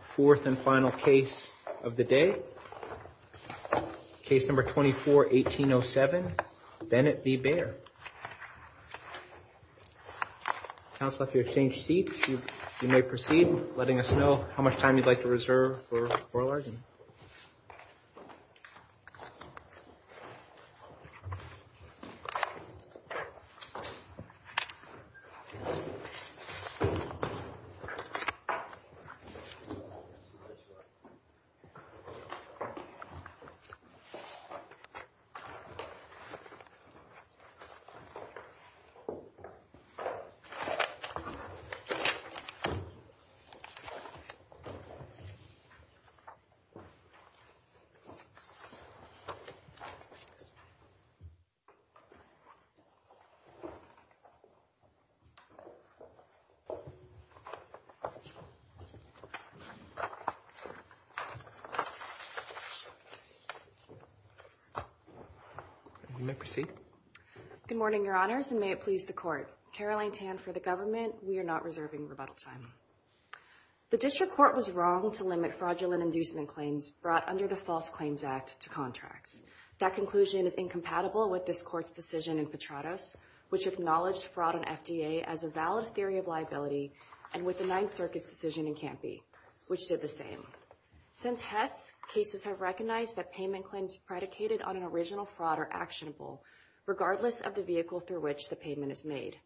Fourth and final case of the day, case number 24-1807, Bennett v. Bayer. Counselor, if you exchange seats, you may proceed letting us know how much time you'd like to reserve for oral argument. You may proceed. Good morning, Your Honors, and may it please the Court. Caroline Tan for the government. We are not reserving rebuttal time. The District Court was wrong to limit fraudulent inducement claims brought under the False Claims Act to contracts. That conclusion is incompatible with this Court's decision in Petratos, which acknowledged fraud on FDA as a valid theory of liability and with the Federal Circuit's decision in Campy, which did the same. Since Hess, cases have recognized that payment claims predicated on an original fraud are actionable, regardless of the vehicle through which the payment is made.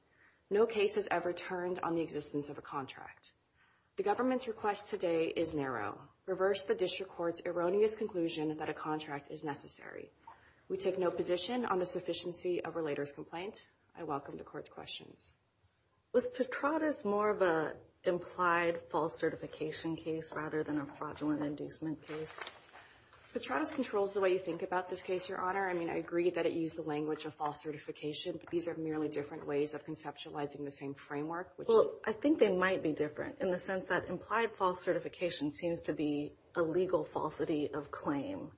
No case has ever turned on the existence of a contract. The government's request today is narrow. Reverse the District Court's erroneous conclusion that a contract is necessary. We take no position on the sufficiency of relator's complaint. I welcome the Court's questions. Was Petratos more of an implied false certification case rather than a fraudulent inducement case? Petratos controls the way you think about this case, Your Honor. I mean, I agree that it used the language of false certification, but these are merely different ways of conceptualizing the same framework, which is... Well, I think they might be different in the sense that implied false certification seems to be a legal falsity of claim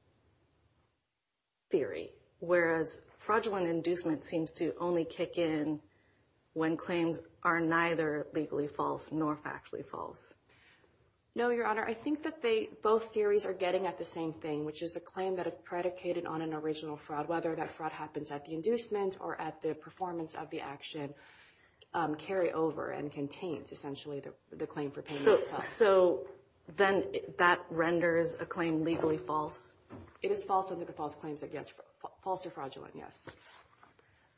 theory, whereas fraudulent inducement seems to only kick in when claims are neither legally false nor factually false. No, Your Honor. I think that both theories are getting at the same thing, which is the claim that is predicated on an original fraud, whether that fraud happens at the inducement or at the performance of the action, carry over and contains essentially the claim for payment itself. So then that renders a claim legally false? It is false under the false claims against... False or fraudulent, yes.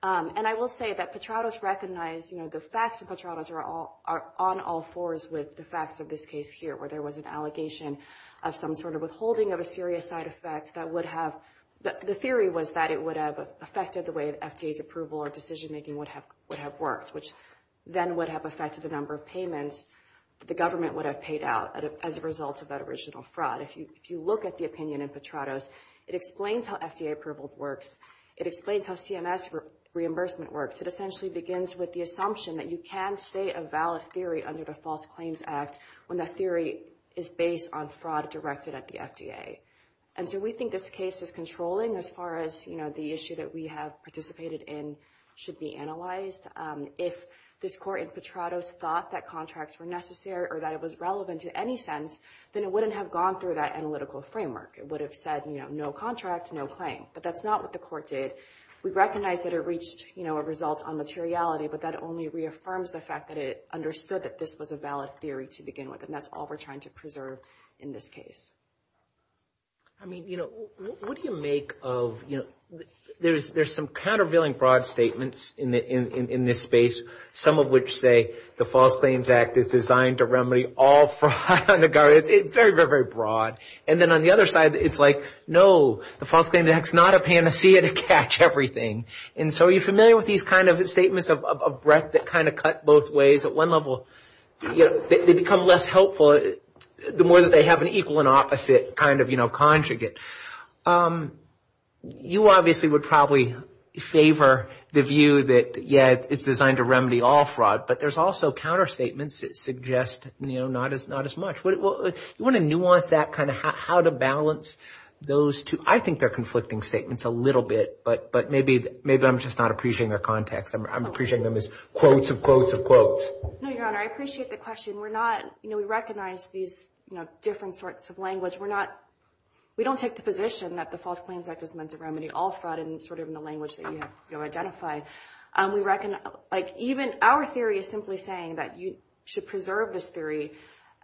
And I will say that Petratos recognized... You know, the facts of Petratos are on all fours with the facts of this case here, where there was an allegation of some sort of withholding of a serious side effect that would have... The theory was that it would have affected the way that FDA's approval or decision-making would have worked, which then would have affected the number of payments the government would have paid out as a result of that original fraud. If you look at the opinion in Petratos, it explains how FDA approval works. It explains how CMS reimbursement works. It essentially begins with the assumption that you can state a valid theory under the False Claims Act when that theory is based on fraud directed at the FDA. And so we think this case is controlling as far as, you know, the issue that we have participated in should be analyzed. If this court in Petratos thought that contracts were necessary or that it was any sense, then it wouldn't have gone through that analytical framework. It would have said, you know, no contract, no claim. But that's not what the court did. We recognize that it reached, you know, a result on materiality, but that only reaffirms the fact that it understood that this was a valid theory to begin with. And that's all we're trying to preserve in this case. I mean, you know, what do you make of... You know, there's some countervailing broad statements in this space, some of which say the False Claims Act is designed to remedy all fraud on the government. It's very, very, very broad. And then on the other side, it's like, no, the False Claims Act is not a panacea to catch everything. And so are you familiar with these kind of statements of breadth that kind of cut both ways at one level? They become less helpful the more that they have an equal and opposite kind of, you know, conjugate. You obviously would probably favor the view that, yeah, it's designed to remedy all fraud, but there's also counter statements that suggest, you know, not as much. You want to nuance that kind of how to balance those two? I think they're conflicting statements a little bit, but maybe I'm just not appreciating their context. I'm appreciating them as quotes of quotes of quotes. No, Your Honor, I appreciate the question. We're not, you know, we recognize these, you know, different sorts of language. We're not, we don't take the position that the False Claims Act is meant to remedy all fraud and sort of in the language that you have to identify. We recognize, like even our theory is simply saying that you should preserve this theory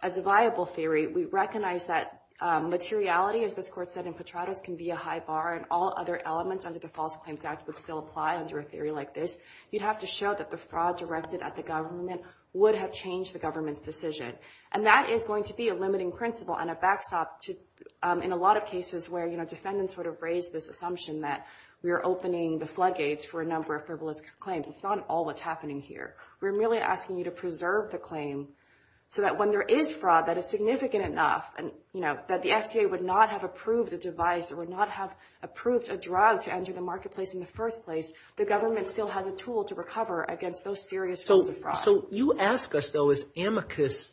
as a viable theory. We recognize that materiality, as this court said in Petratus, can be a high bar and all other elements under the False Claims Act would still apply under a theory like this. You'd have to show that the fraud directed at the government would have changed the government's decision. And that is going to be a limiting principle and a backstop to in a lot of cases where, you know, defendants would have raised this assumption that we are going to preserve these claims. It's not all that's happening here. We're merely asking you to preserve the claim so that when there is fraud that is significant enough and, you know, that the FDA would not have approved the device, it would not have approved a drug to enter the marketplace in the first place, the government still has a tool to recover against those serious forms of fraud. So you ask us, though, is amicus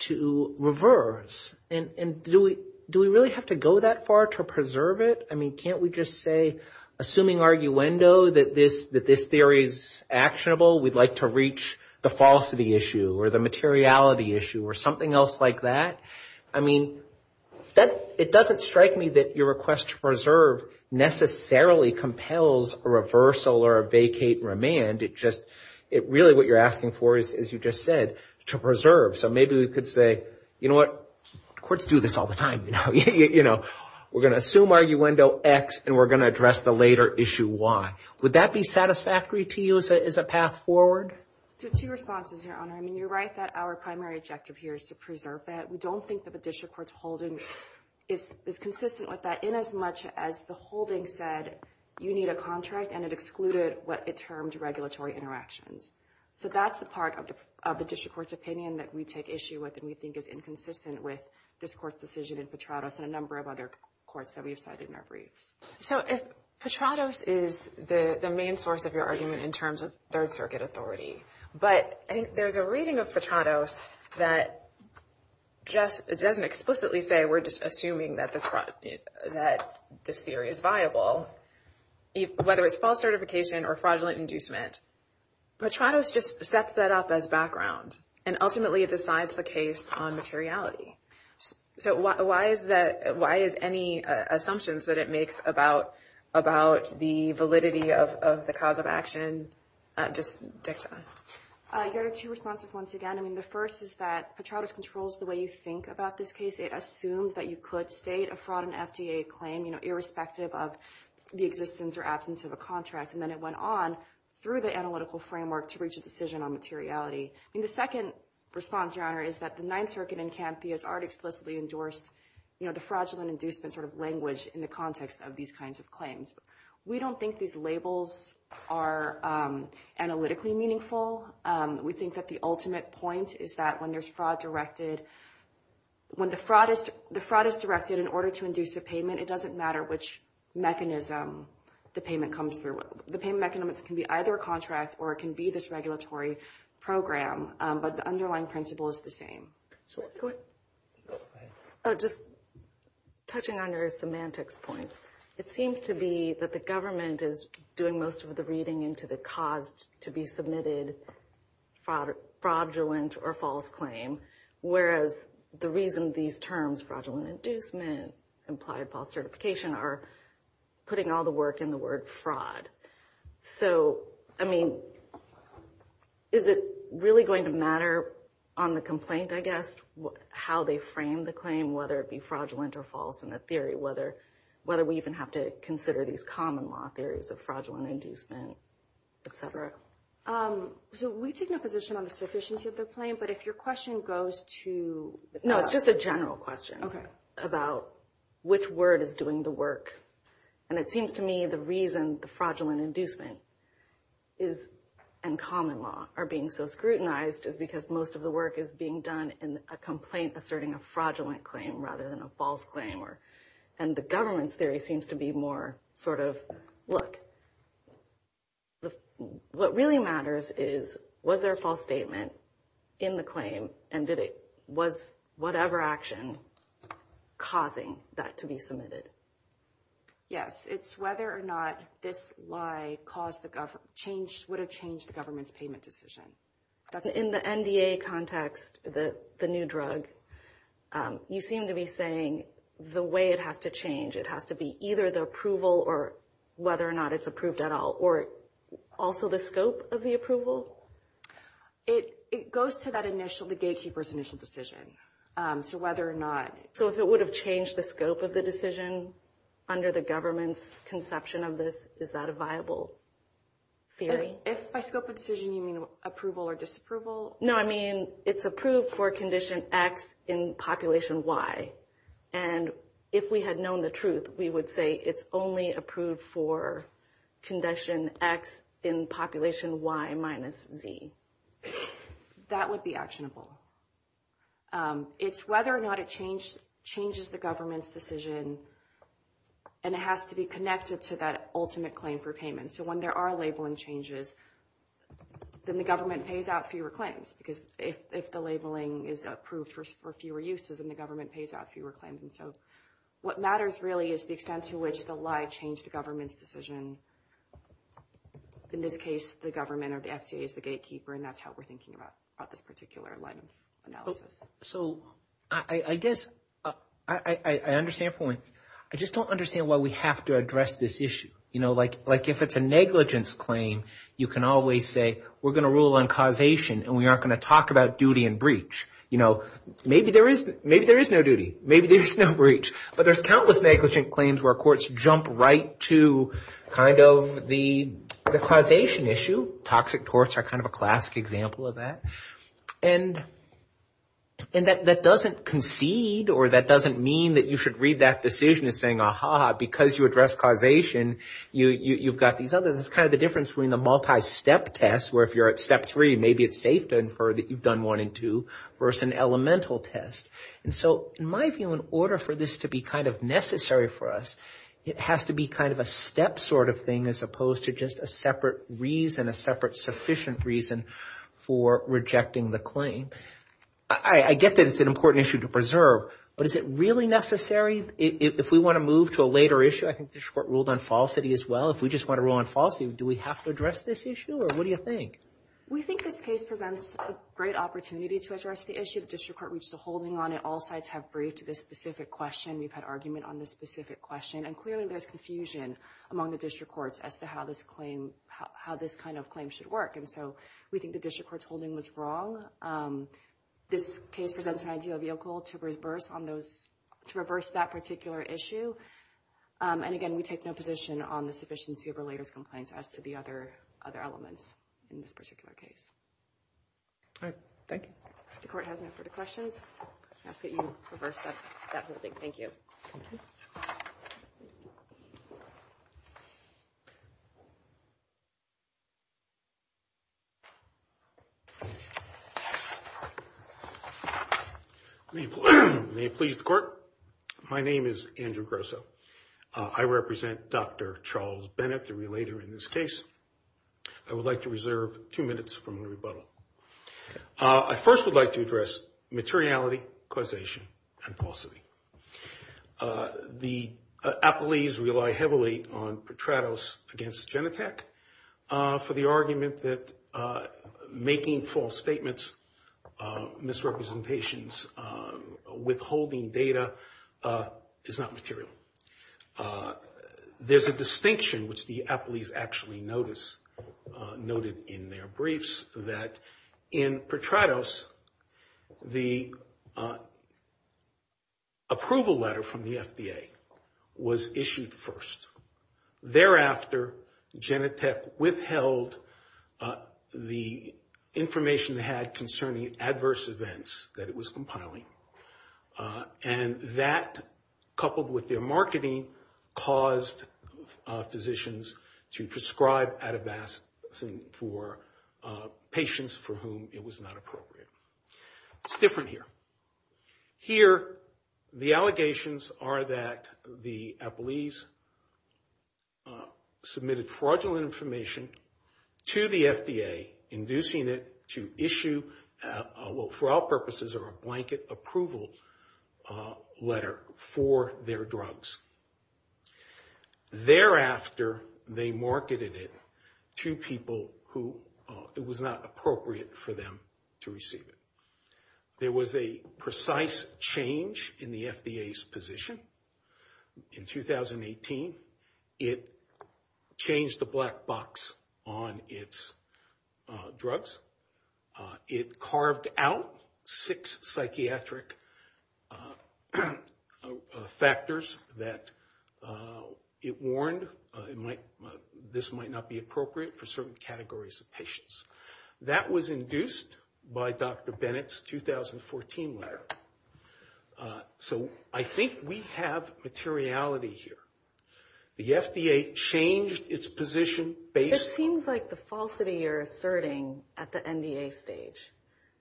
to reverse? And do we really have to go that far to preserve it? I mean, can't we just say, assuming arguendo, that this theory is actionable, we'd like to reach the falsity issue or the materiality issue or something else like that? I mean, it doesn't strike me that your request to preserve necessarily compels a reversal or a vacate remand. It just, it really what you're asking for is, as you just said, to preserve. So maybe we could say, you know what, courts do this all the time, you know. We're going to assume arguendo X and we're going to address the later issue Y. Would that be satisfactory to you as a path forward? So two responses, Your Honor. I mean, you're right that our primary objective here is to preserve that. We don't think that the district court's holding is consistent with that in as much as the holding said, you need a contract and it excluded what it termed regulatory interactions. So that's the part of the district court's opinion that we take issue with and we think is inconsistent with this court's decision in Petrados and a number of other courts that we've cited in our briefs. So if Petrados is the main source of your argument in terms of Third Circuit authority, but I think there's a reading of Petrados that just doesn't explicitly say, we're just assuming that this theory is viable, whether it's false certification or fraudulent inducement, Petrados just sets that up as background and ultimately it decides the case on materiality. So why is that? Why is any assumptions that it makes about the validity of the cause of action? Just dicta. Your Honor, two responses once again. I mean, the first is that Petrados controls the way you think about this case. It assumed that you could state a fraud and FDA claim, you know, irrespective of the existence or absence of a contract. And then it went on through the analytical framework to reach a decision on materiality. I mean, the second response, Your Honor, is that the Ninth Circuit in Canthia has already explicitly endorsed, you know, the fraudulent inducement sort of language in the context of these kinds of claims. We don't think these labels are analytically meaningful. We think that the ultimate point is that when there's fraud directed, when the fraud is directed in order to induce a payment, it doesn't matter which mechanism the payment comes through. The payment mechanism can be either a contract or it can be this regulatory program, but the underlying principle is the same. So, go ahead. Just touching on your semantics points, it seems to be that the government is doing most of the reading into the cause to be submitted fraudulent or false claim, whereas the reason these terms, fraudulent inducement, implied false certification, are putting all the work in the word fraud. So, I mean, is it really going to matter on the complaint, I guess, how they frame the claim, whether it be fraudulent or false in the theory, whether we even have to consider these common law theories of fraudulent inducement, et cetera? So, we've taken a position on the sufficiency of the claim, but if your question goes to... No, it's just a general question about which word is doing the work. And it seems to me the reason the fraudulent inducement and common law are being so scrutinized is because most of the work is being done in a complaint asserting a fraudulent claim rather than a false claim. And the government's theory seems to be more sort of, look, what really matters is was there a false statement in the claim and was whatever action causing that to be submitted? Yes, it's whether or not this lie would have changed the government's payment decision. In the NDA context, the new drug, you seem to be saying the way it has to change, it has to be either the approval or whether or not it's approved at all, or also the scope of the approval? It goes to that initial, the gatekeeper's initial decision. So, whether or not... So, if it would have changed the scope of the decision under the government's conception of this, is that a viable theory? If by scope of decision, you mean approval or disapproval? No, I mean, it's approved for condition X in population Y. And if we had known the truth, we would say it's only approved for condition X in population Y minus Z. That would be actionable. It's whether or not it changes the government's decision and it has to be connected to that ultimate claim for payment. So, when there are labeling changes, then the government pays out fewer claims because if the labeling is approved for fewer uses, then the government pays out fewer claims. And so, what matters really is the extent to which the lie changed the government's decision. In this case, the government or the FDA is the gatekeeper and that's how we're thinking about this particular line of analysis. So, I guess, I understand points. I just don't understand why we have to address this issue. You know, like if it's a negligence claim, you can always say, we're going to rule on causation and we aren't going to talk about duty and breach. You know, maybe there is no duty, maybe there's no breach, but there's countless negligent claims where courts jump right to kind of the causation issue. Toxic torts are kind of a classic example of that. And that doesn't concede or that doesn't mean that you should read that decision as saying, aha, because you addressed causation, you've got these others. It's kind of the difference between the multi-step test where if you're at step three, maybe it's safe to infer that you've done one and two versus an elemental test. And so, in my view, in order for this to be kind of necessary for us, it has to be kind of a step sort of thing as opposed to just a separate reason, a separate sufficient reason for rejecting the claim. I get that it's an important issue to preserve, but is it really necessary? If we want to move to a later issue, I think the court ruled on falsity as well. If we just want to rule on falsity, do we have to address this issue or what do you think? We think this case presents a great opportunity to address the issue. The district court reached a holding on it. All sides have briefed this specific question. We've had argument on this specific question. And clearly, there's confusion among the district courts as to how this claim, how this kind of claim should work. And so, we think the district court's holding was wrong. This case presents an ideal vehicle to reverse on those, to reverse that particular issue. And again, we take no position on the sufficiency of related complaints as to the other elements in this particular case. All right. Thank you. If the court has no further questions, I ask that you reverse that holding. Thank you. May it please the court. My name is Andrew Grosso. I represent Dr. Charles Bennett, the relator in this case. I would like to reserve two minutes from the rebuttal. I first would like to address materiality, causation, and falsity. The appellees rely heavily on Petratos against Genentech for the argument that making false statements, misrepresentations, withholding data is not material. There's a distinction, which the appellees actually notice, noted in their briefs, that in Petratos, the approval letter from the FDA was issued first. Thereafter, Genentech withheld the information they had concerning adverse events that it was compiling. And that, coupled with their marketing, caused physicians to prescribe Atavastazine for patients for whom it was not appropriate. It's different here. Here, the allegations are that the appellees submitted fraudulent information to the FDA, inducing it to issue, for all purposes, a blanket approval letter for their drugs. Thereafter, they marketed it to people who it was not appropriate for them to receive it. There was a precise change in the FDA's position in 2018. It changed the black box on its drugs. It carved out six psychiatric factors that it warned this might not be appropriate for certain categories of patients. That was induced by Dr. Bennett's 2014 letter. So I think we have materiality here. The FDA changed its position based on... It seems like the falsity you're asserting at the NDA stage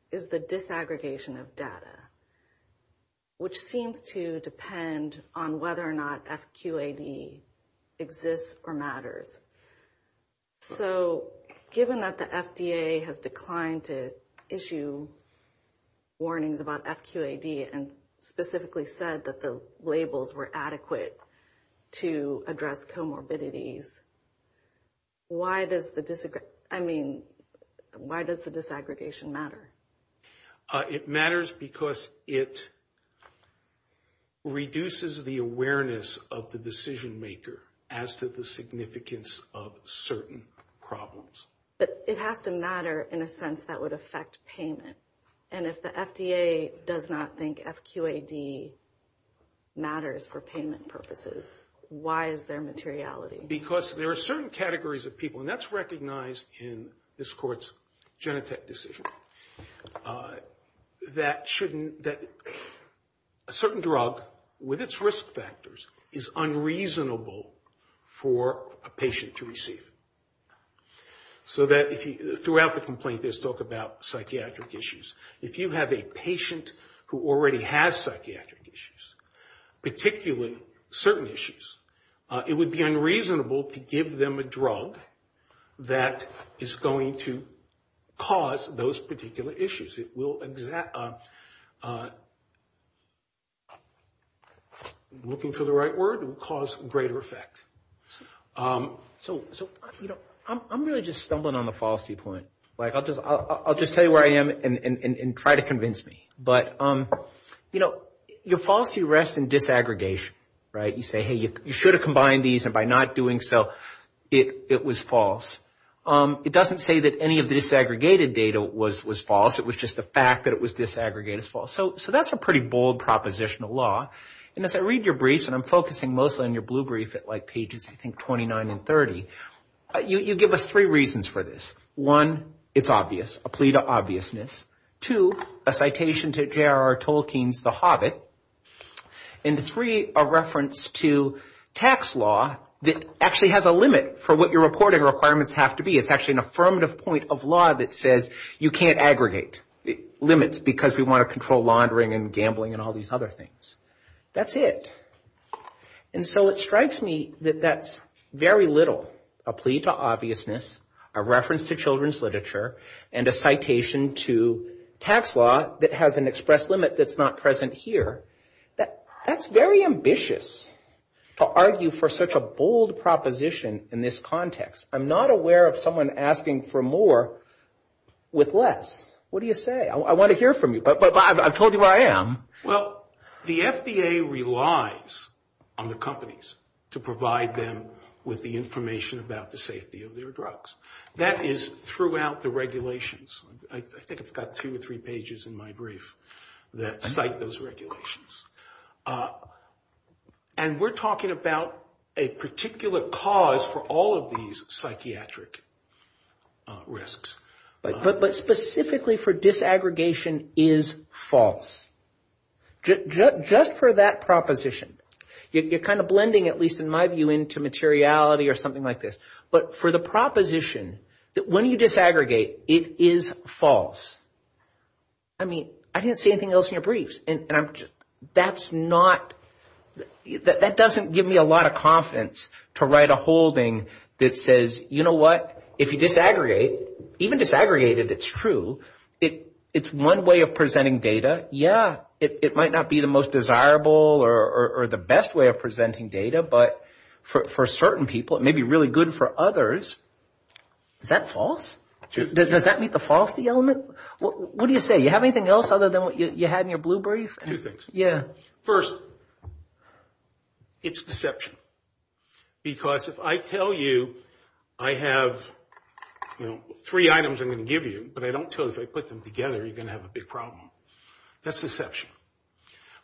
is the disaggregation of data, which seems to depend on whether or not FQAD exists or matters. So, given that the FDA has declined to issue warnings about FQAD and specifically said that the labels were adequate to address comorbidities, why does the disaggregation matter? It matters because it reduces the awareness of the decision maker as to the significance of certain problems. But it has to matter in a sense that would affect payment. And if the FDA does not think FQAD matters for payment purposes, why is there materiality? Because there are certain categories of people, and that's recognized in this court's Genentech decision, that a certain drug, with its risk factors, is unreasonable for a patient to receive. Throughout the complaint, there's talk about psychiatric issues. If you have a patient who already has psychiatric issues, particularly certain issues, it would be unreasonable to give them a drug that is going to cause those particular issues. It will, looking for the right word, cause greater effect. So, you know, I'm really just stumbling on the falsity point. Like, I'll just tell you where I am and try to convince me. But, you know, your falsity rests in disaggregation, right? You say, hey, you should have combined these, and by not doing so, it was false. It doesn't say that any of the disaggregated data was false. It was just the fact that it was disaggregated is false. So that's a pretty bold propositional law. And as I read your briefs, and I'm focusing mostly on your blue brief at like pages, I think, 29 and 30, you give us three reasons for this. One, it's obvious, a plea to obviousness. Two, a citation to J.R.R. Wilkins, The Hobbit. And three, a reference to tax law that actually has a limit for what your reporting requirements have to be. It's actually an affirmative point of law that says you can't aggregate limits because we want to control laundering and gambling and all these other things. That's it. And so it strikes me that that's very little, a plea to obviousness, a reference to children's not present here, that's very ambitious to argue for such a bold proposition in this context. I'm not aware of someone asking for more with less. What do you say? I want to hear from you, but I've told you where I am. Well, the FDA relies on the companies to provide them with the information about the safety of their drugs. That is throughout the regulations. I think I've got two or three pages in my brief that cite those regulations. And we're talking about a particular cause for all of these psychiatric risks. But specifically for disaggregation is false. Just for that proposition. You're kind of blending, at least in my view, into materiality or something like this. But for the proposition that when you disaggregate, it is false. I mean, I didn't say anything else in your briefs. And that's not, that doesn't give me a lot of confidence to write a holding that says, you know what, if you disaggregate, even disaggregated it's true, it's one way of presenting data. Yeah, it might not be the most desirable or the best way of presenting data, but for certain people it may be really good for others. Is that false? Does that meet the falsity element? What do you say? You have anything else other than what you had in your blue brief? Two things. Yeah. First, it's deception. Because if I tell you I have three items I'm going to give you, but I don't tell you if I put them together, you're going to have a big problem. That's deception.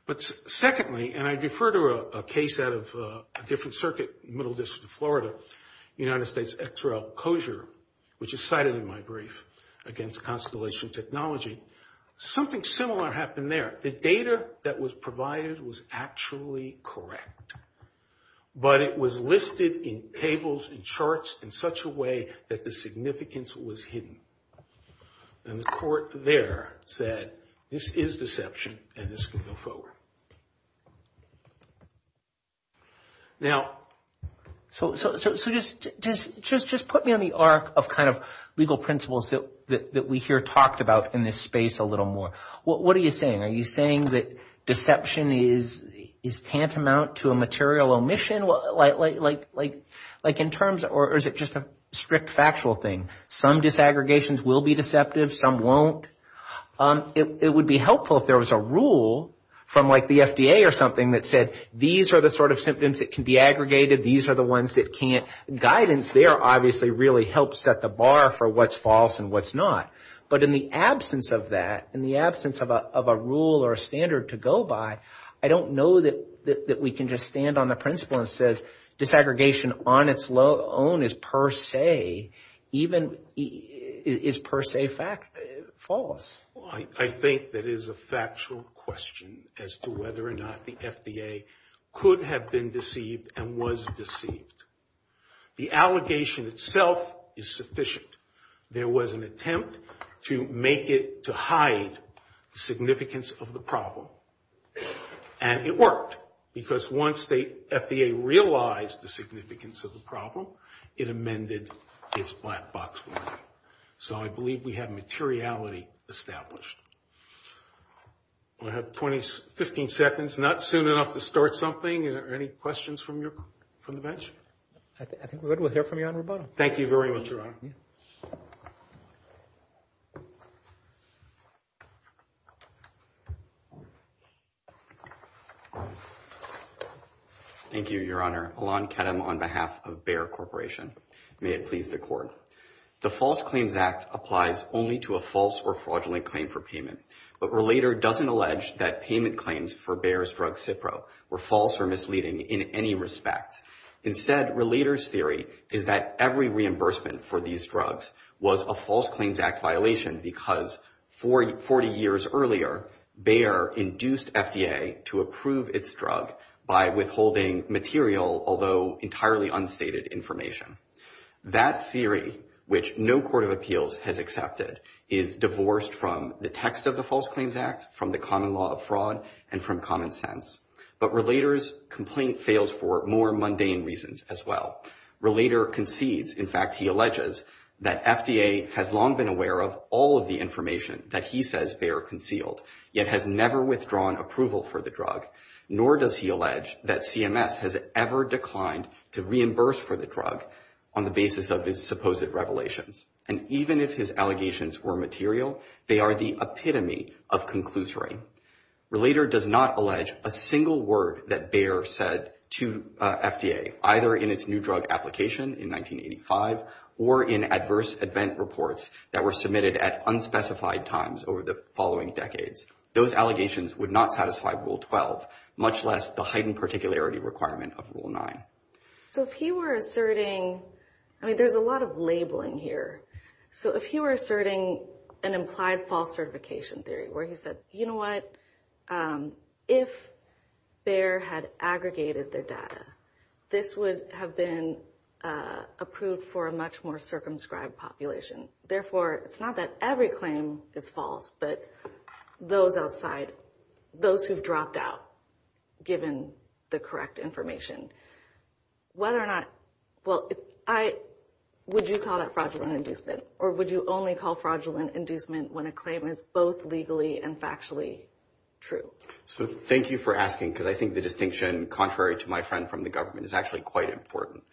But secondly, and I defer to a case out of a different circuit in the middle district of Florida, United States XRL Kosher, which is cited in my brief, against Constellation Technology. Something similar happened there. The data that was provided was actually correct. But it was listed in tables and charts in such a way that the significance was hidden. And the court there said this is deception and this can go forward. Now, so just put me on the arc of kind of legal principles that we here talked about in this space a little more. What are you saying? Are you saying that deception is tantamount to a material omission? Like in terms of, or is it just a strict factual thing? Some disaggregations will be deceptive, some won't. It would be helpful if there was a rule from like the FDA or something that said, these are the sort of symptoms that can be aggregated, these are the ones that can't. Guidance there obviously really helps set the bar for what's false and what's not. But in the absence of that, in the absence of a rule or a standard to go by, I don't know that we can just stand on the principle and say disaggregation on its own is per se, even is per se false. I think that is a factual question as to whether or not the FDA could have been deceived and was deceived. The allegation itself is sufficient. There was an attempt to make it to hide the significance of the problem. And it worked. Because once the FDA realized the significance of the problem, it amended its black box ruling. So I believe we have materiality established. We'll have 15 seconds, not soon enough to start something. Are there any questions from the bench? I think we're good. We'll hear from you on rebuttal. Thank you very much, Your Honor. Thank you. Thank you, Your Honor. Alon Ketem on behalf of Bayer Corporation. May it please the Court. The False Claims Act applies only to a false or fraudulent claim for payment. But Relator doesn't allege that payment claims for Bayer's drug Cipro were false or misleading in any respect. Instead, Relator's theory is that every reimbursement for these drugs was a False Claims Act violation because 40 years earlier, Bayer induced FDA to approve its drug by withholding material, although entirely unstated, information. That theory, which no court of appeals has accepted, is divorced from the text of the False Claims Act, from the common law of fraud, and from common sense. But Relator's complaint fails for more mundane reasons as well. Relator concedes, in fact he alleges, that FDA has long been aware of all of the information that he says Bayer concealed, yet has never withdrawn approval for the drug. Nor does he allege that CMS has ever declined to reimburse for the drug on the basis of his supposed revelations. And even if his allegations were material, they are the epitome of conclusory. Relator does not allege a single word that Bayer said to FDA, either in its new drug application in 1985, or in adverse event reports that were submitted at unspecified times over the following decades. Those allegations would not satisfy Rule 12, much less the heightened particularity requirement of Rule 9. So if he were asserting, I mean there's a lot of labeling here. So if he were asserting an implied false certification theory, where he said, you know what, if Bayer had aggregated their data, this would have been approved for a much more circumscribed population. Therefore, it's not that every claim is false, but those outside, those who've dropped out, given the correct information. Whether or not, well, would you call that fraudulent inducement? Or would you only call fraudulent inducement when a claim is both legally and factually true? So thank you for asking, because I think the distinction, contrary to my friend from the government, is actually quite important.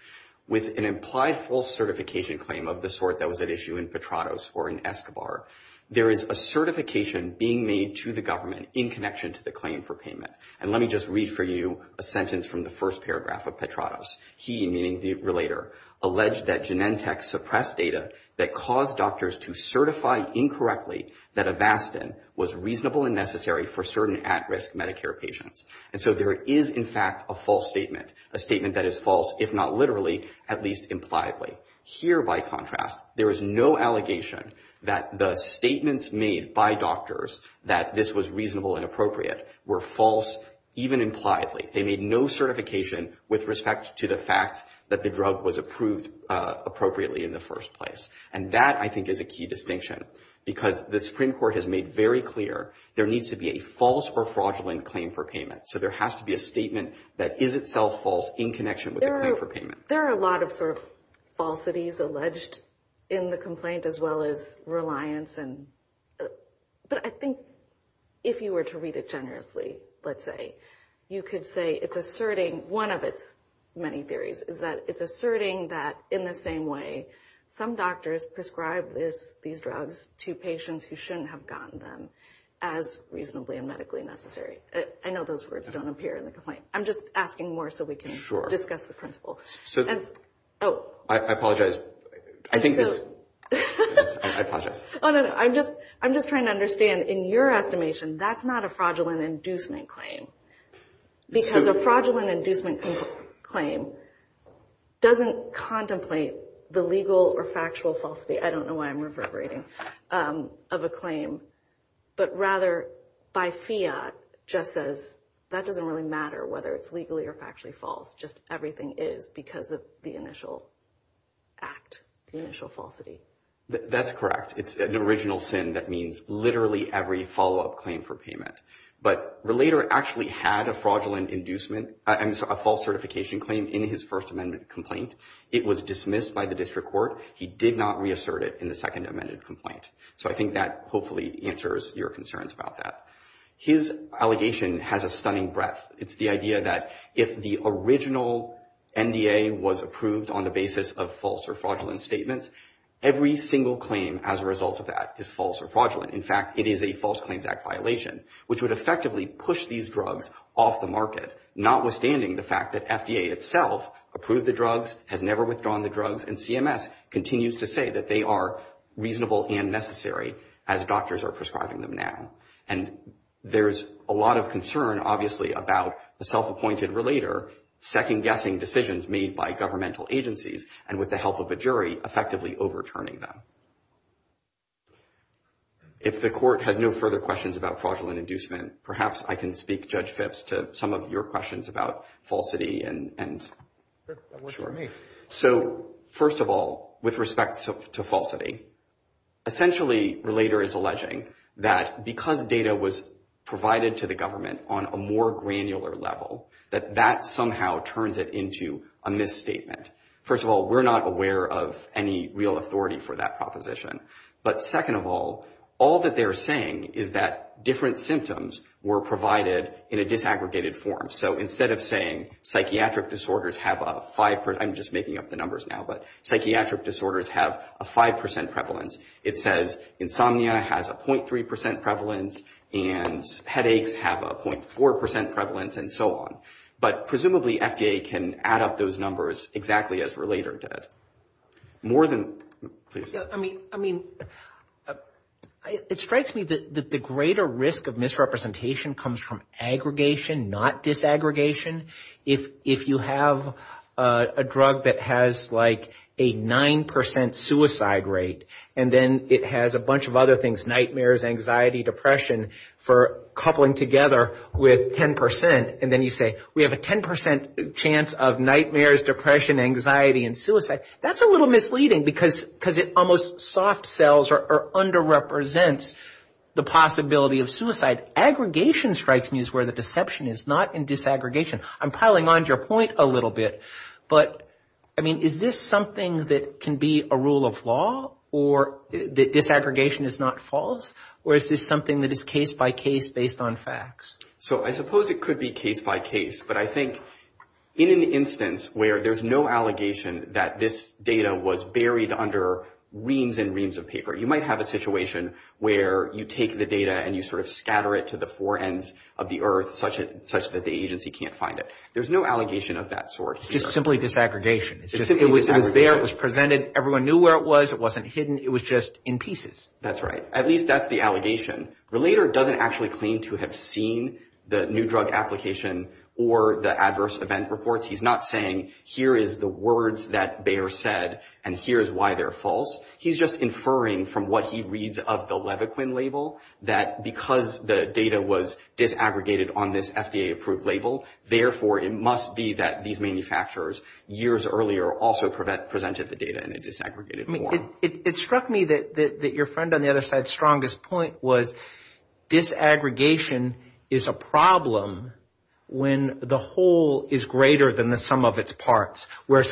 With an implied false certification claim of the sort that was at issue in Petrados or in Escobar, there is a certification being made to the government in connection to the claim for payment. And let me just read for you a sentence from the first paragraph of Petrados. He, meaning the relator, alleged that Genentech suppressed data that caused doctors to certify incorrectly that Avastin was reasonable and necessary for certain at-risk Medicare patients. And so there is, in fact, a false statement, a statement that is false, if not literally, at least impliedly. Here, by contrast, there is no allegation that the statements made by doctors that this was reasonable and appropriate were false, even impliedly. They made no certification with respect to the fact that the drug was approved appropriately in the first place. And that, I think, is a key distinction, because the Supreme Court has made very clear there needs to be a false or fraudulent claim for payment. So there has to be a statement that is itself false in connection with the claim for payment. There are a lot of sort of falsities alleged in the complaint, as well as reliance. But I think if you were to read it generously, let's say, you could say it's asserting, one of its many theories, is that it's asserting that in the same way some doctors prescribe these drugs to patients who shouldn't have gotten them as reasonably and medically necessary. I know those words don't appear in the complaint. I'm just asking more so we can discuss the principle. I apologize. I'm just trying to understand, in your estimation, that's not a fraudulent inducement claim. Because a fraudulent inducement claim doesn't contemplate the legal or factual falsity, I don't know why I'm reverberating, of a claim. But rather, by fiat, just says that doesn't really matter whether it's legally or factually false. Just everything is because of the initial act, the initial falsity. That's correct. It's an original sin that means literally every follow-up claim for payment. But Relator actually had a fraudulent inducement, a false certification claim in his First Amendment complaint. It was dismissed by the district court. He did not reassert it in the Second Amendment complaint. So I think that hopefully answers your concerns about that. His allegation has a stunning breadth. It's the idea that if the original NDA was approved on the basis of false or fraudulent statements, every single claim as a result of that is false or fraudulent. In fact, it is a False Claims Act violation, which would effectively push these drugs off the market, notwithstanding the fact that FDA itself approved the drugs, has never withdrawn the drugs, and CMS continues to say that they are reasonable and necessary as doctors are prescribing them now. And there's a lot of concern, obviously, about the self-appointed Relator second-guessing decisions made by governmental agencies and, with the help of a jury, effectively overturning them. If the Court has no further questions about fraudulent inducement, perhaps I can speak, Judge Phipps, to some of your questions about falsity. So, first of all, with respect to falsity, essentially Relator is alleging that because data was provided to the government on a more granular level, that that somehow turns it into a misstatement. First of all, we're not aware of any real authority for that proposition. But, second of all, all that they're saying is that different symptoms were provided in a disaggregated form. So, instead of saying psychiatric disorders have a 5%—I'm just making up the numbers now— psychiatric disorders have a 5% prevalence, it says insomnia has a 0.3% prevalence, and headaches have a 0.4% prevalence, and so on. But, presumably, FDA can add up those numbers exactly as Relator did. More than—please. I mean, it strikes me that the greater risk of misrepresentation comes from aggregation, not disaggregation. If you have a drug that has, like, a 9% suicide rate, and then it has a bunch of other things, nightmares, anxiety, depression, for coupling together with 10%, and then you say, we have a 10% chance of nightmares, depression, anxiety, and suicide, that's a little misleading, because it almost soft-sells or under-represents the possibility of suicide. But aggregation strikes me as where the deception is, not in disaggregation. I'm piling on to your point a little bit, but, I mean, is this something that can be a rule of law, or that disaggregation is not false, or is this something that is case-by-case based on facts? So, I suppose it could be case-by-case, but I think in an instance where there's no allegation that this data was buried under reams and reams of paper, you might have a situation where you take the data and you sort of scatter it to the four ends of the earth, such that the agency can't find it. There's no allegation of that sort here. It's just simply disaggregation. It was there, it was presented, everyone knew where it was, it wasn't hidden, it was just in pieces. That's right. At least that's the allegation. Relator doesn't actually claim to have seen the new drug application or the adverse event reports. He's not saying, here is the words that Bayer said, and here's why they're false. He's just inferring from what he reads of the Levaquin label, that because the data was disaggregated on this FDA-approved label, therefore it must be that these manufacturers years earlier also presented the data in a disaggregated form. It struck me that your friend on the other side's strongest point was disaggregation is a problem when the whole is greater than the sum of its parts, where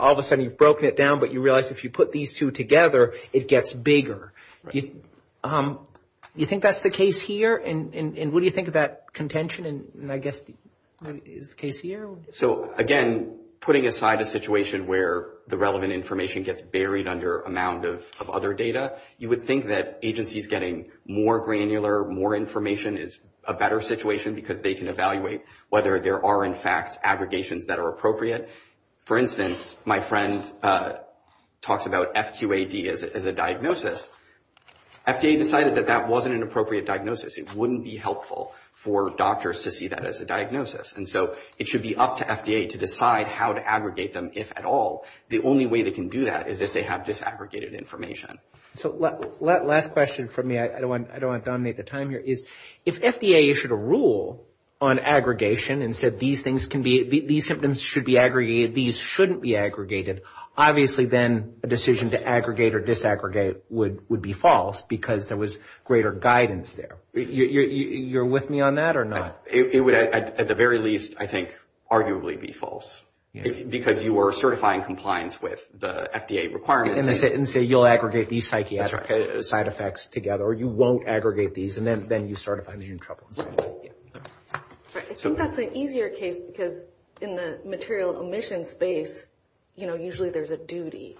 all of a sudden you've broken it down, but you realize if you put these two together, it gets bigger. Do you think that's the case here, and what do you think of that contention, and I guess is the case here? So again, putting aside a situation where the relevant information gets buried under a mound of other data, you would think that agencies getting more granular, more information is a better situation, because they can evaluate whether there are in fact aggregations that are appropriate. For instance, my friend talks about FQAD as a diagnosis. FDA decided that that wasn't an appropriate diagnosis. It wouldn't be helpful for doctors to see that as a diagnosis. And so it should be up to FDA to decide how to aggregate them, if at all. The only way they can do that is if they have disaggregated information. So last question from me, I don't want to dominate the time here, is if FDA issued a rule on aggregation and said these symptoms should be aggregated, these shouldn't be aggregated, obviously then a decision to aggregate or disaggregate would be false because there was greater guidance there. You're with me on that or not? It would at the very least, I think, arguably be false. Because you were certifying compliance with the FDA requirements. And say you'll aggregate these psychiatric side effects together, or you won't aggregate these, and then you start finding yourself in trouble. I think that's an easier case because in the material omission space, usually there's a duty.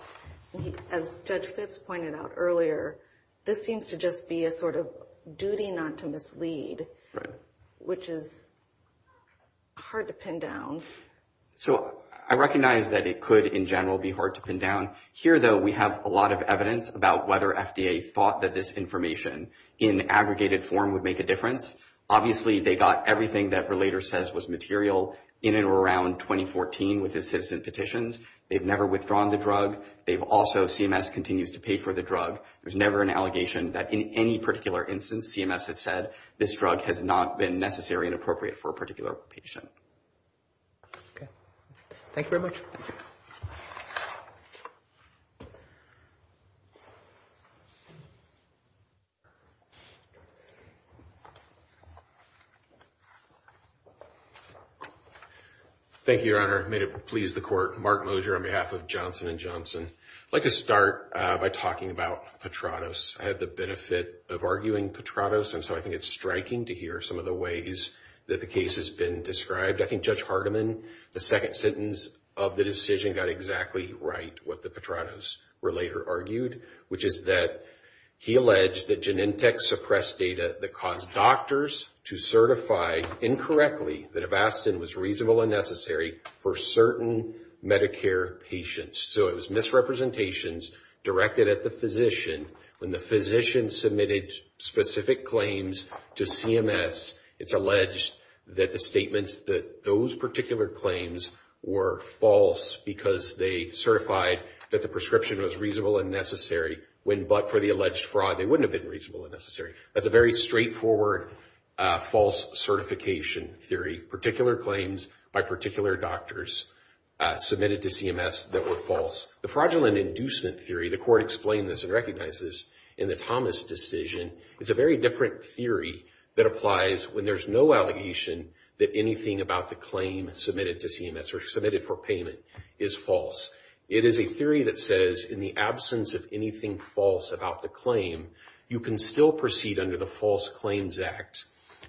As Judge Phipps pointed out earlier, this seems to just be a sort of duty not to mislead, which is hard to pin down. So I recognize that it could in general be hard to pin down. Here, though, we have a lot of evidence about whether FDA thought that this information in aggregated form would make a difference. Obviously they got everything that Relator says was material in and around 2014 with the citizen petitions. They've never withdrawn the drug. They've also, CMS continues to pay for the drug. There's never an allegation that in any particular instance, CMS has said, this drug has not been necessary and appropriate for a particular patient. Okay. Thank you very much. Thank you, Your Honor. May it please the Court. Mark Mosher on behalf of Johnson & Johnson. I'd like to start by talking about Petranos. I had the benefit of arguing Petranos, and so I think it's striking to hear some of the ways that the case has been described. I think Judge Hardiman, the second sentence of the decision, got exactly right what the Petranos Relator argued, which is that he alleged that Genentech suppressed data that caused doctors to certify incorrectly that Avastin was reasonable and necessary for certain Medicare patients. So it was misrepresentations directed at the physician. When the physician submitted specific claims to CMS, it's alleged that the statements that those particular claims were false because they certified that the prescription was reasonable and necessary when but for the alleged fraud, they wouldn't have been reasonable and necessary. That's a very straightforward false certification theory. Particular claims by particular doctors submitted to CMS that were false. The fraudulent inducement theory, the Court explained this and recognized this in the Thomas decision, is a very different theory that applies when there's no allegation that anything about the claim submitted to CMS or submitted for payment is false. It is a theory that says in the absence of anything false about the claim, you can still proceed under the False Claims Act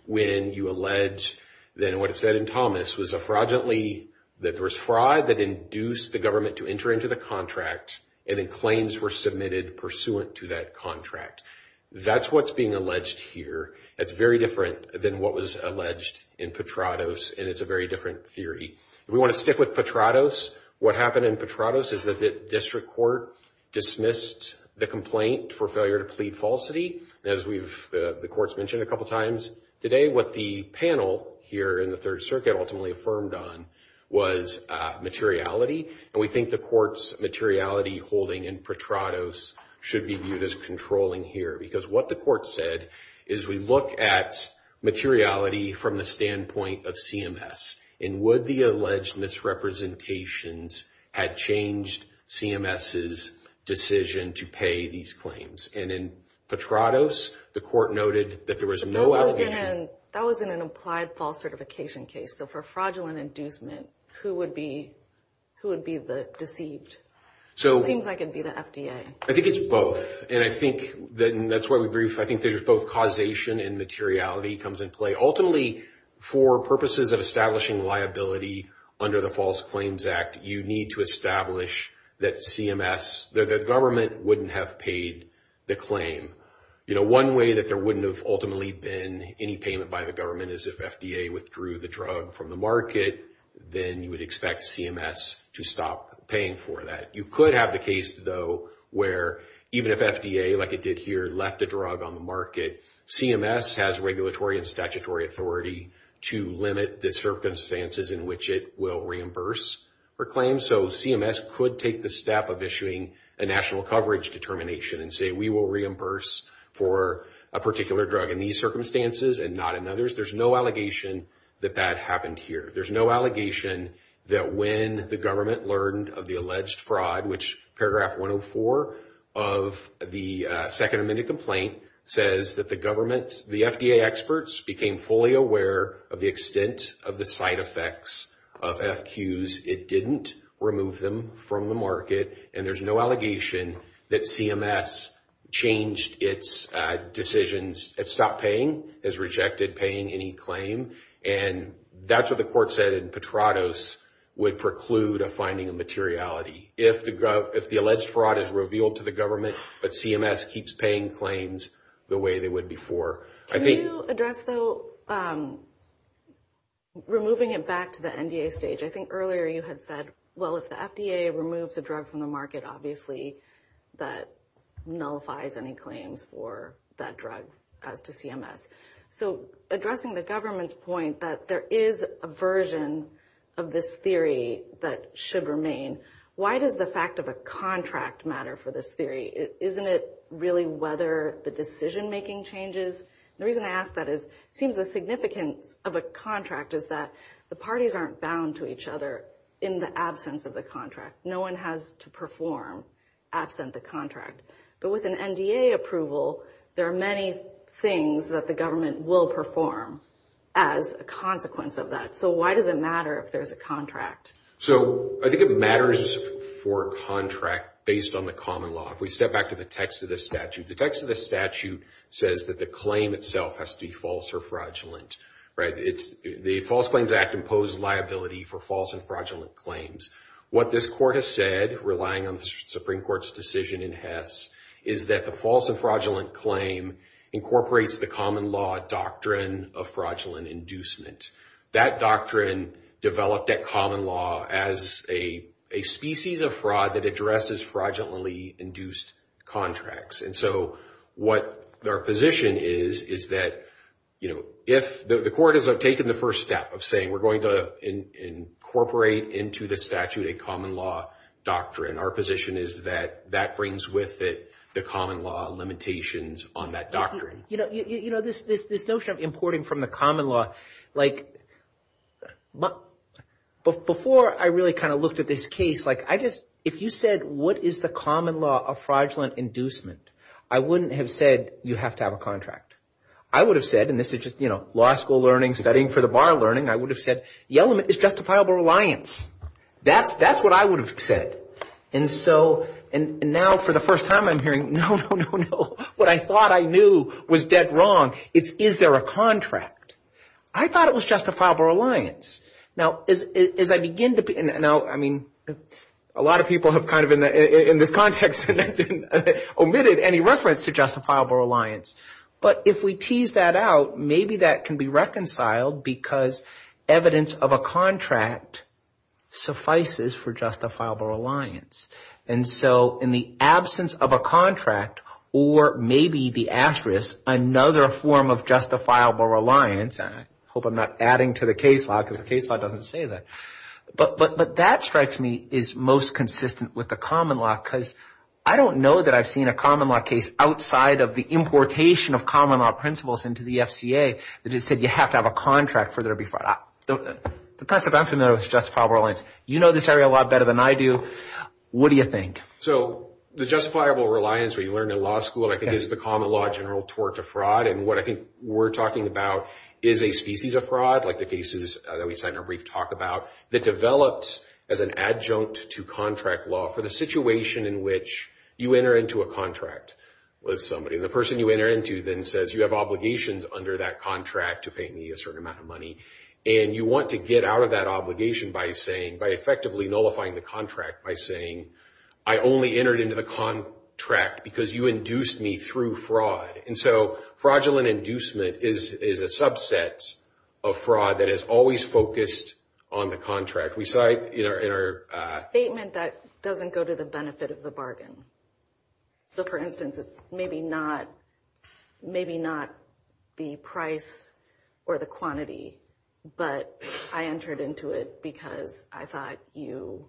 when you allege, then what it said in Thomas was that there was fraud that induced the government to enter into the contract and then claims were submitted pursuant to that contract. That's what's being alleged here. That's very different than what was alleged in Petranos, and it's a very different theory. We want to stick with Petranos. What happened in Petranos is that the District Court dismissed the complaint for failure to plead falsity. As the Court's mentioned a couple times today, what the panel here in the Third Circuit ultimately affirmed on was materiality, and we think the Court's materiality holding in Petranos should be viewed as controlling here because what the Court said is we look at materiality from the standpoint of CMS and would the alleged misrepresentations had changed CMS's decision to pay these claims. And in Petranos, the Court noted that there was no allegation. That was in an applied false certification case. So for fraudulent inducement, who would be the deceived? It seems like it would be the FDA. I think it's both, and I think that's why we brief. I think there's both causation and materiality comes into play. Ultimately, for purposes of establishing liability under the False Claims Act, you need to establish that CMS, that the government wouldn't have paid the claim. One way that there wouldn't have ultimately been any payment by the government is if FDA withdrew the drug from the market, then you would expect CMS to stop paying for that. You could have the case, though, where even if FDA, like it did here, left a drug on the market, CMS has regulatory and statutory authority to limit the circumstances in which it will reimburse for claims. So CMS could take the step of issuing a national coverage determination and say we will reimburse for a particular drug in these circumstances and not in others. There's no allegation that that happened here. There's no allegation that when the government learned of the alleged fraud, which paragraph 104 of the Second Amendment complaint says that the government, the FDA experts became fully aware of the extent of the side effects of FQs. It didn't remove them from the market. And there's no allegation that CMS changed its decisions. It stopped paying, has rejected paying any claim. And that's what the court said in Petratos would preclude a finding of materiality. If the alleged fraud is revealed to the government, but CMS keeps paying claims the way they would before. Can you address, though, removing it back to the NDA stage? I think earlier you had said, well, if the FDA removes a drug from the market, obviously that nullifies any claims for that drug as to CMS. So addressing the government's point that there is a version of this theory that should remain, why does the fact of a contract matter for this theory? Isn't it really whether the decision-making changes? The reason I ask that is it seems the significance of a contract is that the parties aren't bound to each other in the absence of the contract. No one has to perform absent the contract. But with an NDA approval, there are many things that the government will perform as a consequence of that. So why does it matter if there's a contract? So I think it matters for a contract based on the common law. If we step back to the text of the statute, the text of the statute says that the claim itself has to be false or fraudulent. The False Claims Act imposed liability for false and fraudulent claims. What this court has said, relying on the Supreme Court's decision in Hess, is that the false and fraudulent claim incorporates the common law doctrine of fraudulent inducement. That doctrine developed at common law as a species of fraud that addresses fraudulently induced contracts. And so what our position is, is that if the court has taken the first step of saying, we're going to incorporate into the statute a common law doctrine, our position is that that brings with it the common law limitations on that doctrine. You know, this notion of importing from the common law, like before I really kind of looked at this case, like I just, if you said, what is the common law of fraudulent inducement? I wouldn't have said you have to have a contract. I would have said, and this is just, you know, law school learning, studying for the bar learning. I would have said the element is justifiable reliance. That's what I would have said. And so, and now for the first time I'm hearing, no, no, no, no. What I thought I knew was dead wrong. It's, is there a contract? I thought it was justifiable reliance. Now, as I begin to, now, I mean, a lot of people have kind of in this context omitted any reference to justifiable reliance. But if we tease that out, maybe that can be reconciled because evidence of a contract suffices for justifiable reliance. And so in the absence of a contract or maybe the asterisk, another form of justifiable reliance, and I hope I'm not adding to the case law because the case law doesn't say that, but that strikes me is most consistent with the common law because I don't know that I've seen a common law case outside of the importation of common law principles into the FCA that has said you have to have a contract for there to be fraud. The concept I'm familiar with is justifiable reliance. You know this area a lot better than I do. What do you think? So the justifiable reliance we learned in law school, I think, is the common law general tort of fraud. And what I think we're talking about is a species of fraud, like the cases that we said in our brief talk about, that develops as an adjunct to contract law for the situation in which you enter into a contract with somebody. And the person you enter into then says you have obligations under that contract to pay me a certain amount of money, and you want to get out of that obligation by effectively nullifying the contract by saying, I only entered into the contract because you induced me through fraud. And so fraudulent inducement is a subset of fraud that is always focused on the contract. We saw it in our— Statement that doesn't go to the benefit of the bargain. So for instance, it's maybe not the price or the quantity, but I entered into it because I thought you—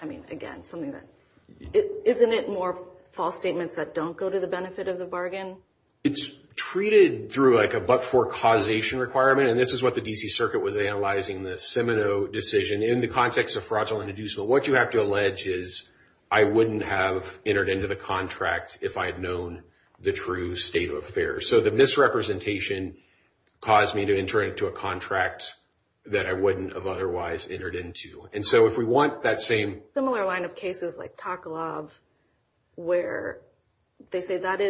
I mean, again, something that—isn't it more false statements that don't go to the benefit of the bargain? It's treated through like a but-for causation requirement, and this is what the D.C. Circuit was analyzing in the Seminoe decision in the context of fraudulent inducement. What you have to allege is I wouldn't have entered into the contract if I had known the true state of affairs. So the misrepresentation caused me to enter into a contract that I wouldn't have otherwise entered into. And so if we want that same— Similar line of cases like Taklov where they say that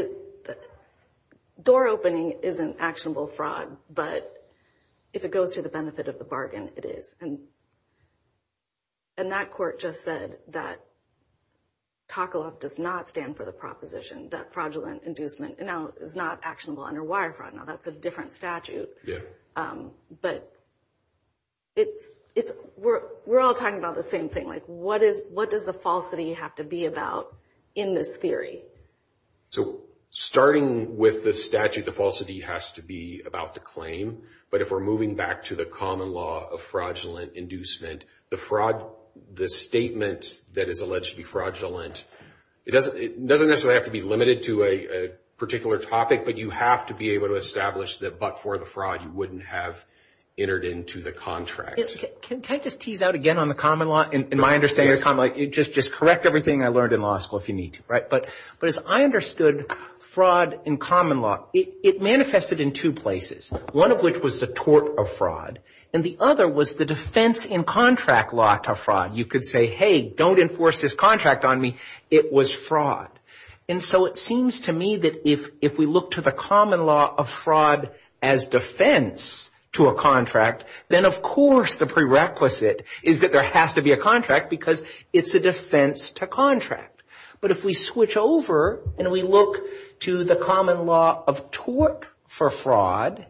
door opening isn't actionable fraud, but if it goes to the benefit of the bargain, it is. And that court just said that Taklov does not stand for the proposition that fraudulent inducement is not actionable under wire fraud. Now, that's a different statute. But it's—we're all talking about the same thing. Like what is—what does the falsity have to be about in this theory? So starting with the statute, the falsity has to be about the claim. But if we're moving back to the common law of fraudulent inducement, the fraud—the statement that is alleged to be fraudulent, it doesn't necessarily have to be limited to a particular topic, but you have to be able to establish that but for the fraud you wouldn't have entered into the contract. Can I just tease out again on the common law? In my understanding of common law, just correct everything I learned in law school if you need to, right? But as I understood fraud in common law, it manifested in two places, one of which was the tort of fraud, and the other was the defense in contract law to fraud. You could say, hey, don't enforce this contract on me. It was fraud. And so it seems to me that if we look to the common law of fraud as defense to a contract, then of course the prerequisite is that there has to be a contract because it's a defense to contract. But if we switch over and we look to the common law of tort for fraud,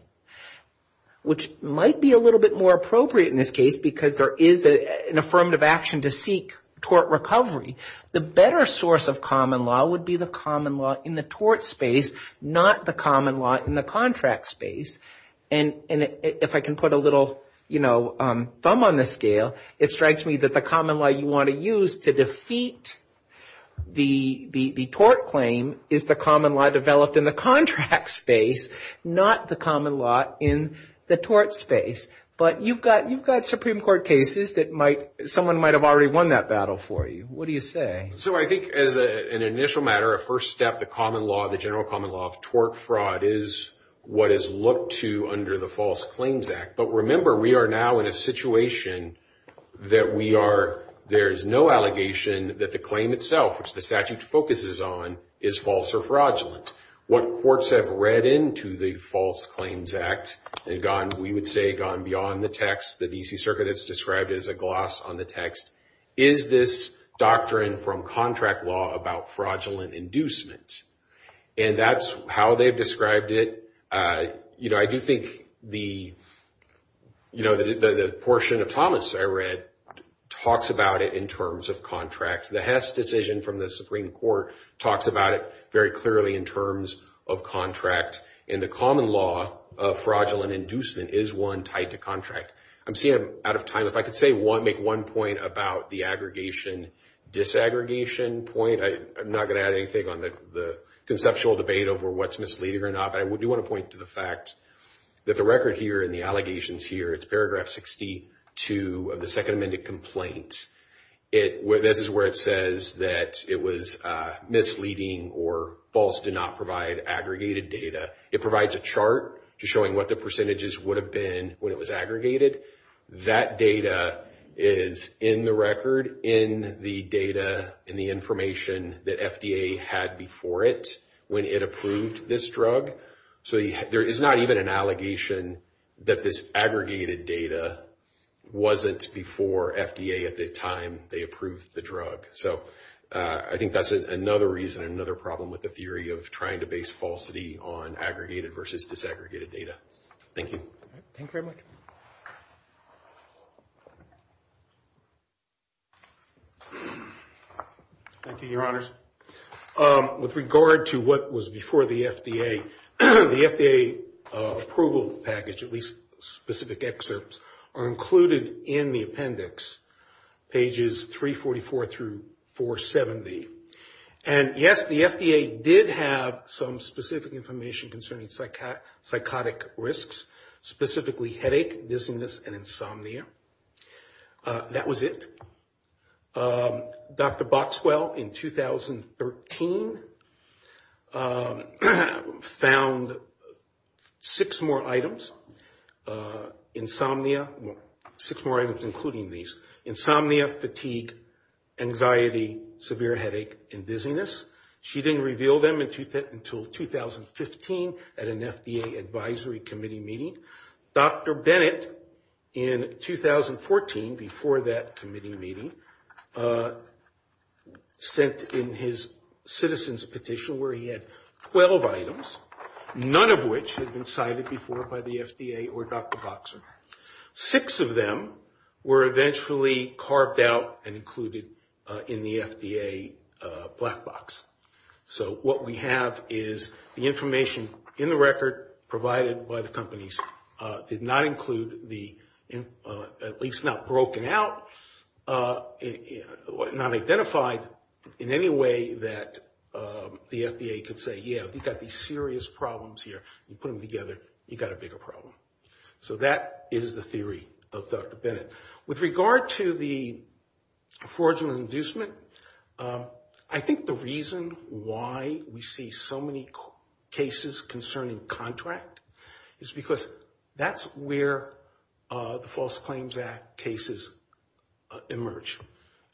which might be a little bit more appropriate in this case because there is an affirmative action to seek tort recovery, the better source of common law would be the common law in the tort space, not the common law in the contract space. And if I can put a little, you know, thumb on the scale, it strikes me that the common law you want to use to defeat the tort claim is the common law developed in the contract space, not the common law in the tort space. But you've got Supreme Court cases that someone might have already won that battle for you. What do you say? So I think as an initial matter, a first step, the common law, the general common law of tort fraud is what is looked to under the False Claims Act. But remember, we are now in a situation that we are, there is no allegation that the claim itself, which the statute focuses on, is false or fraudulent. What courts have read into the False Claims Act and gone, we would say, gone beyond the text. The D.C. Circuit has described it as a gloss on the text. Is this doctrine from contract law about fraudulent inducement? And that's how they've described it. You know, I do think the, you know, the portion of Thomas I read talks about it in terms of contract. The Hess decision from the Supreme Court talks about it very clearly in terms of contract. And the common law of fraudulent inducement is one tied to contract. I'm seeing I'm out of time. If I could say one, make one point about the aggregation disaggregation point. I'm not going to add anything on the conceptual debate over what's misleading or not. But I do want to point to the fact that the record here and the allegations here, it's paragraph 62 of the second amended complaint. This is where it says that it was misleading or false, did not provide aggregated data. It provides a chart showing what the percentages would have been when it was aggregated. That data is in the record, in the data, in the information that FDA had before it when it approved this drug. So there is not even an allegation that this aggregated data wasn't before FDA at the time they approved the drug. So I think that's another reason, another problem with the theory of trying to base falsity on aggregated versus disaggregated data. Thank you. Thank you very much. Thank you, Your Honors. With regard to what was before the FDA, the FDA approval package, at least specific excerpts, are included in the appendix, pages 344 through 470. And yes, the FDA did have some specific information concerning psychotic risks, specifically headache, dizziness, and insomnia. That was it. Dr. Boxwell, in 2013, found six more items. Insomnia, well, six more items including these. Insomnia, fatigue, anxiety, severe headache, and dizziness. She didn't reveal them until 2015 at an FDA advisory committee meeting. Dr. Bennett, in 2014, before that committee meeting, sent in his citizen's petition where he had 12 items, none of which had been cited before by the FDA or Dr. Boxwell. Six of them were eventually carved out and included in the FDA black box. So what we have is the information in the record provided by the companies did not include the, at least not broken out, not identified in any way that the FDA could say, yeah, you've got these serious problems here. You put them together, you've got a bigger problem. So that is the theory of Dr. Bennett. With regard to the fraudulent inducement, I think the reason why we see so many cases concerning contract is because that's where the False Claims Act cases emerge.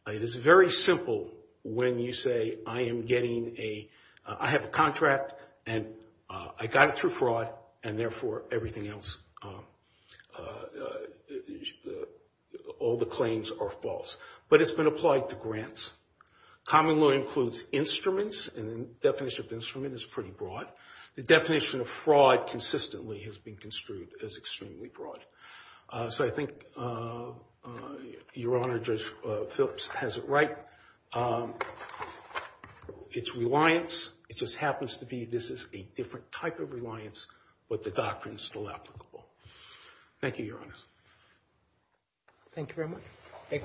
It is very simple when you say I am getting a, I have a contract and I got it through fraud and therefore everything else, all the claims are false. But it's been applied to grants. Common law includes instruments and the definition of instrument is pretty broad. The definition of fraud consistently has been construed as extremely broad. So I think Your Honor Judge Phillips has it right. It's reliance. It just happens to be this is a different type of reliance, but the doctrine is still applicable. Thank you, Your Honors. Thank you very much. Any questions?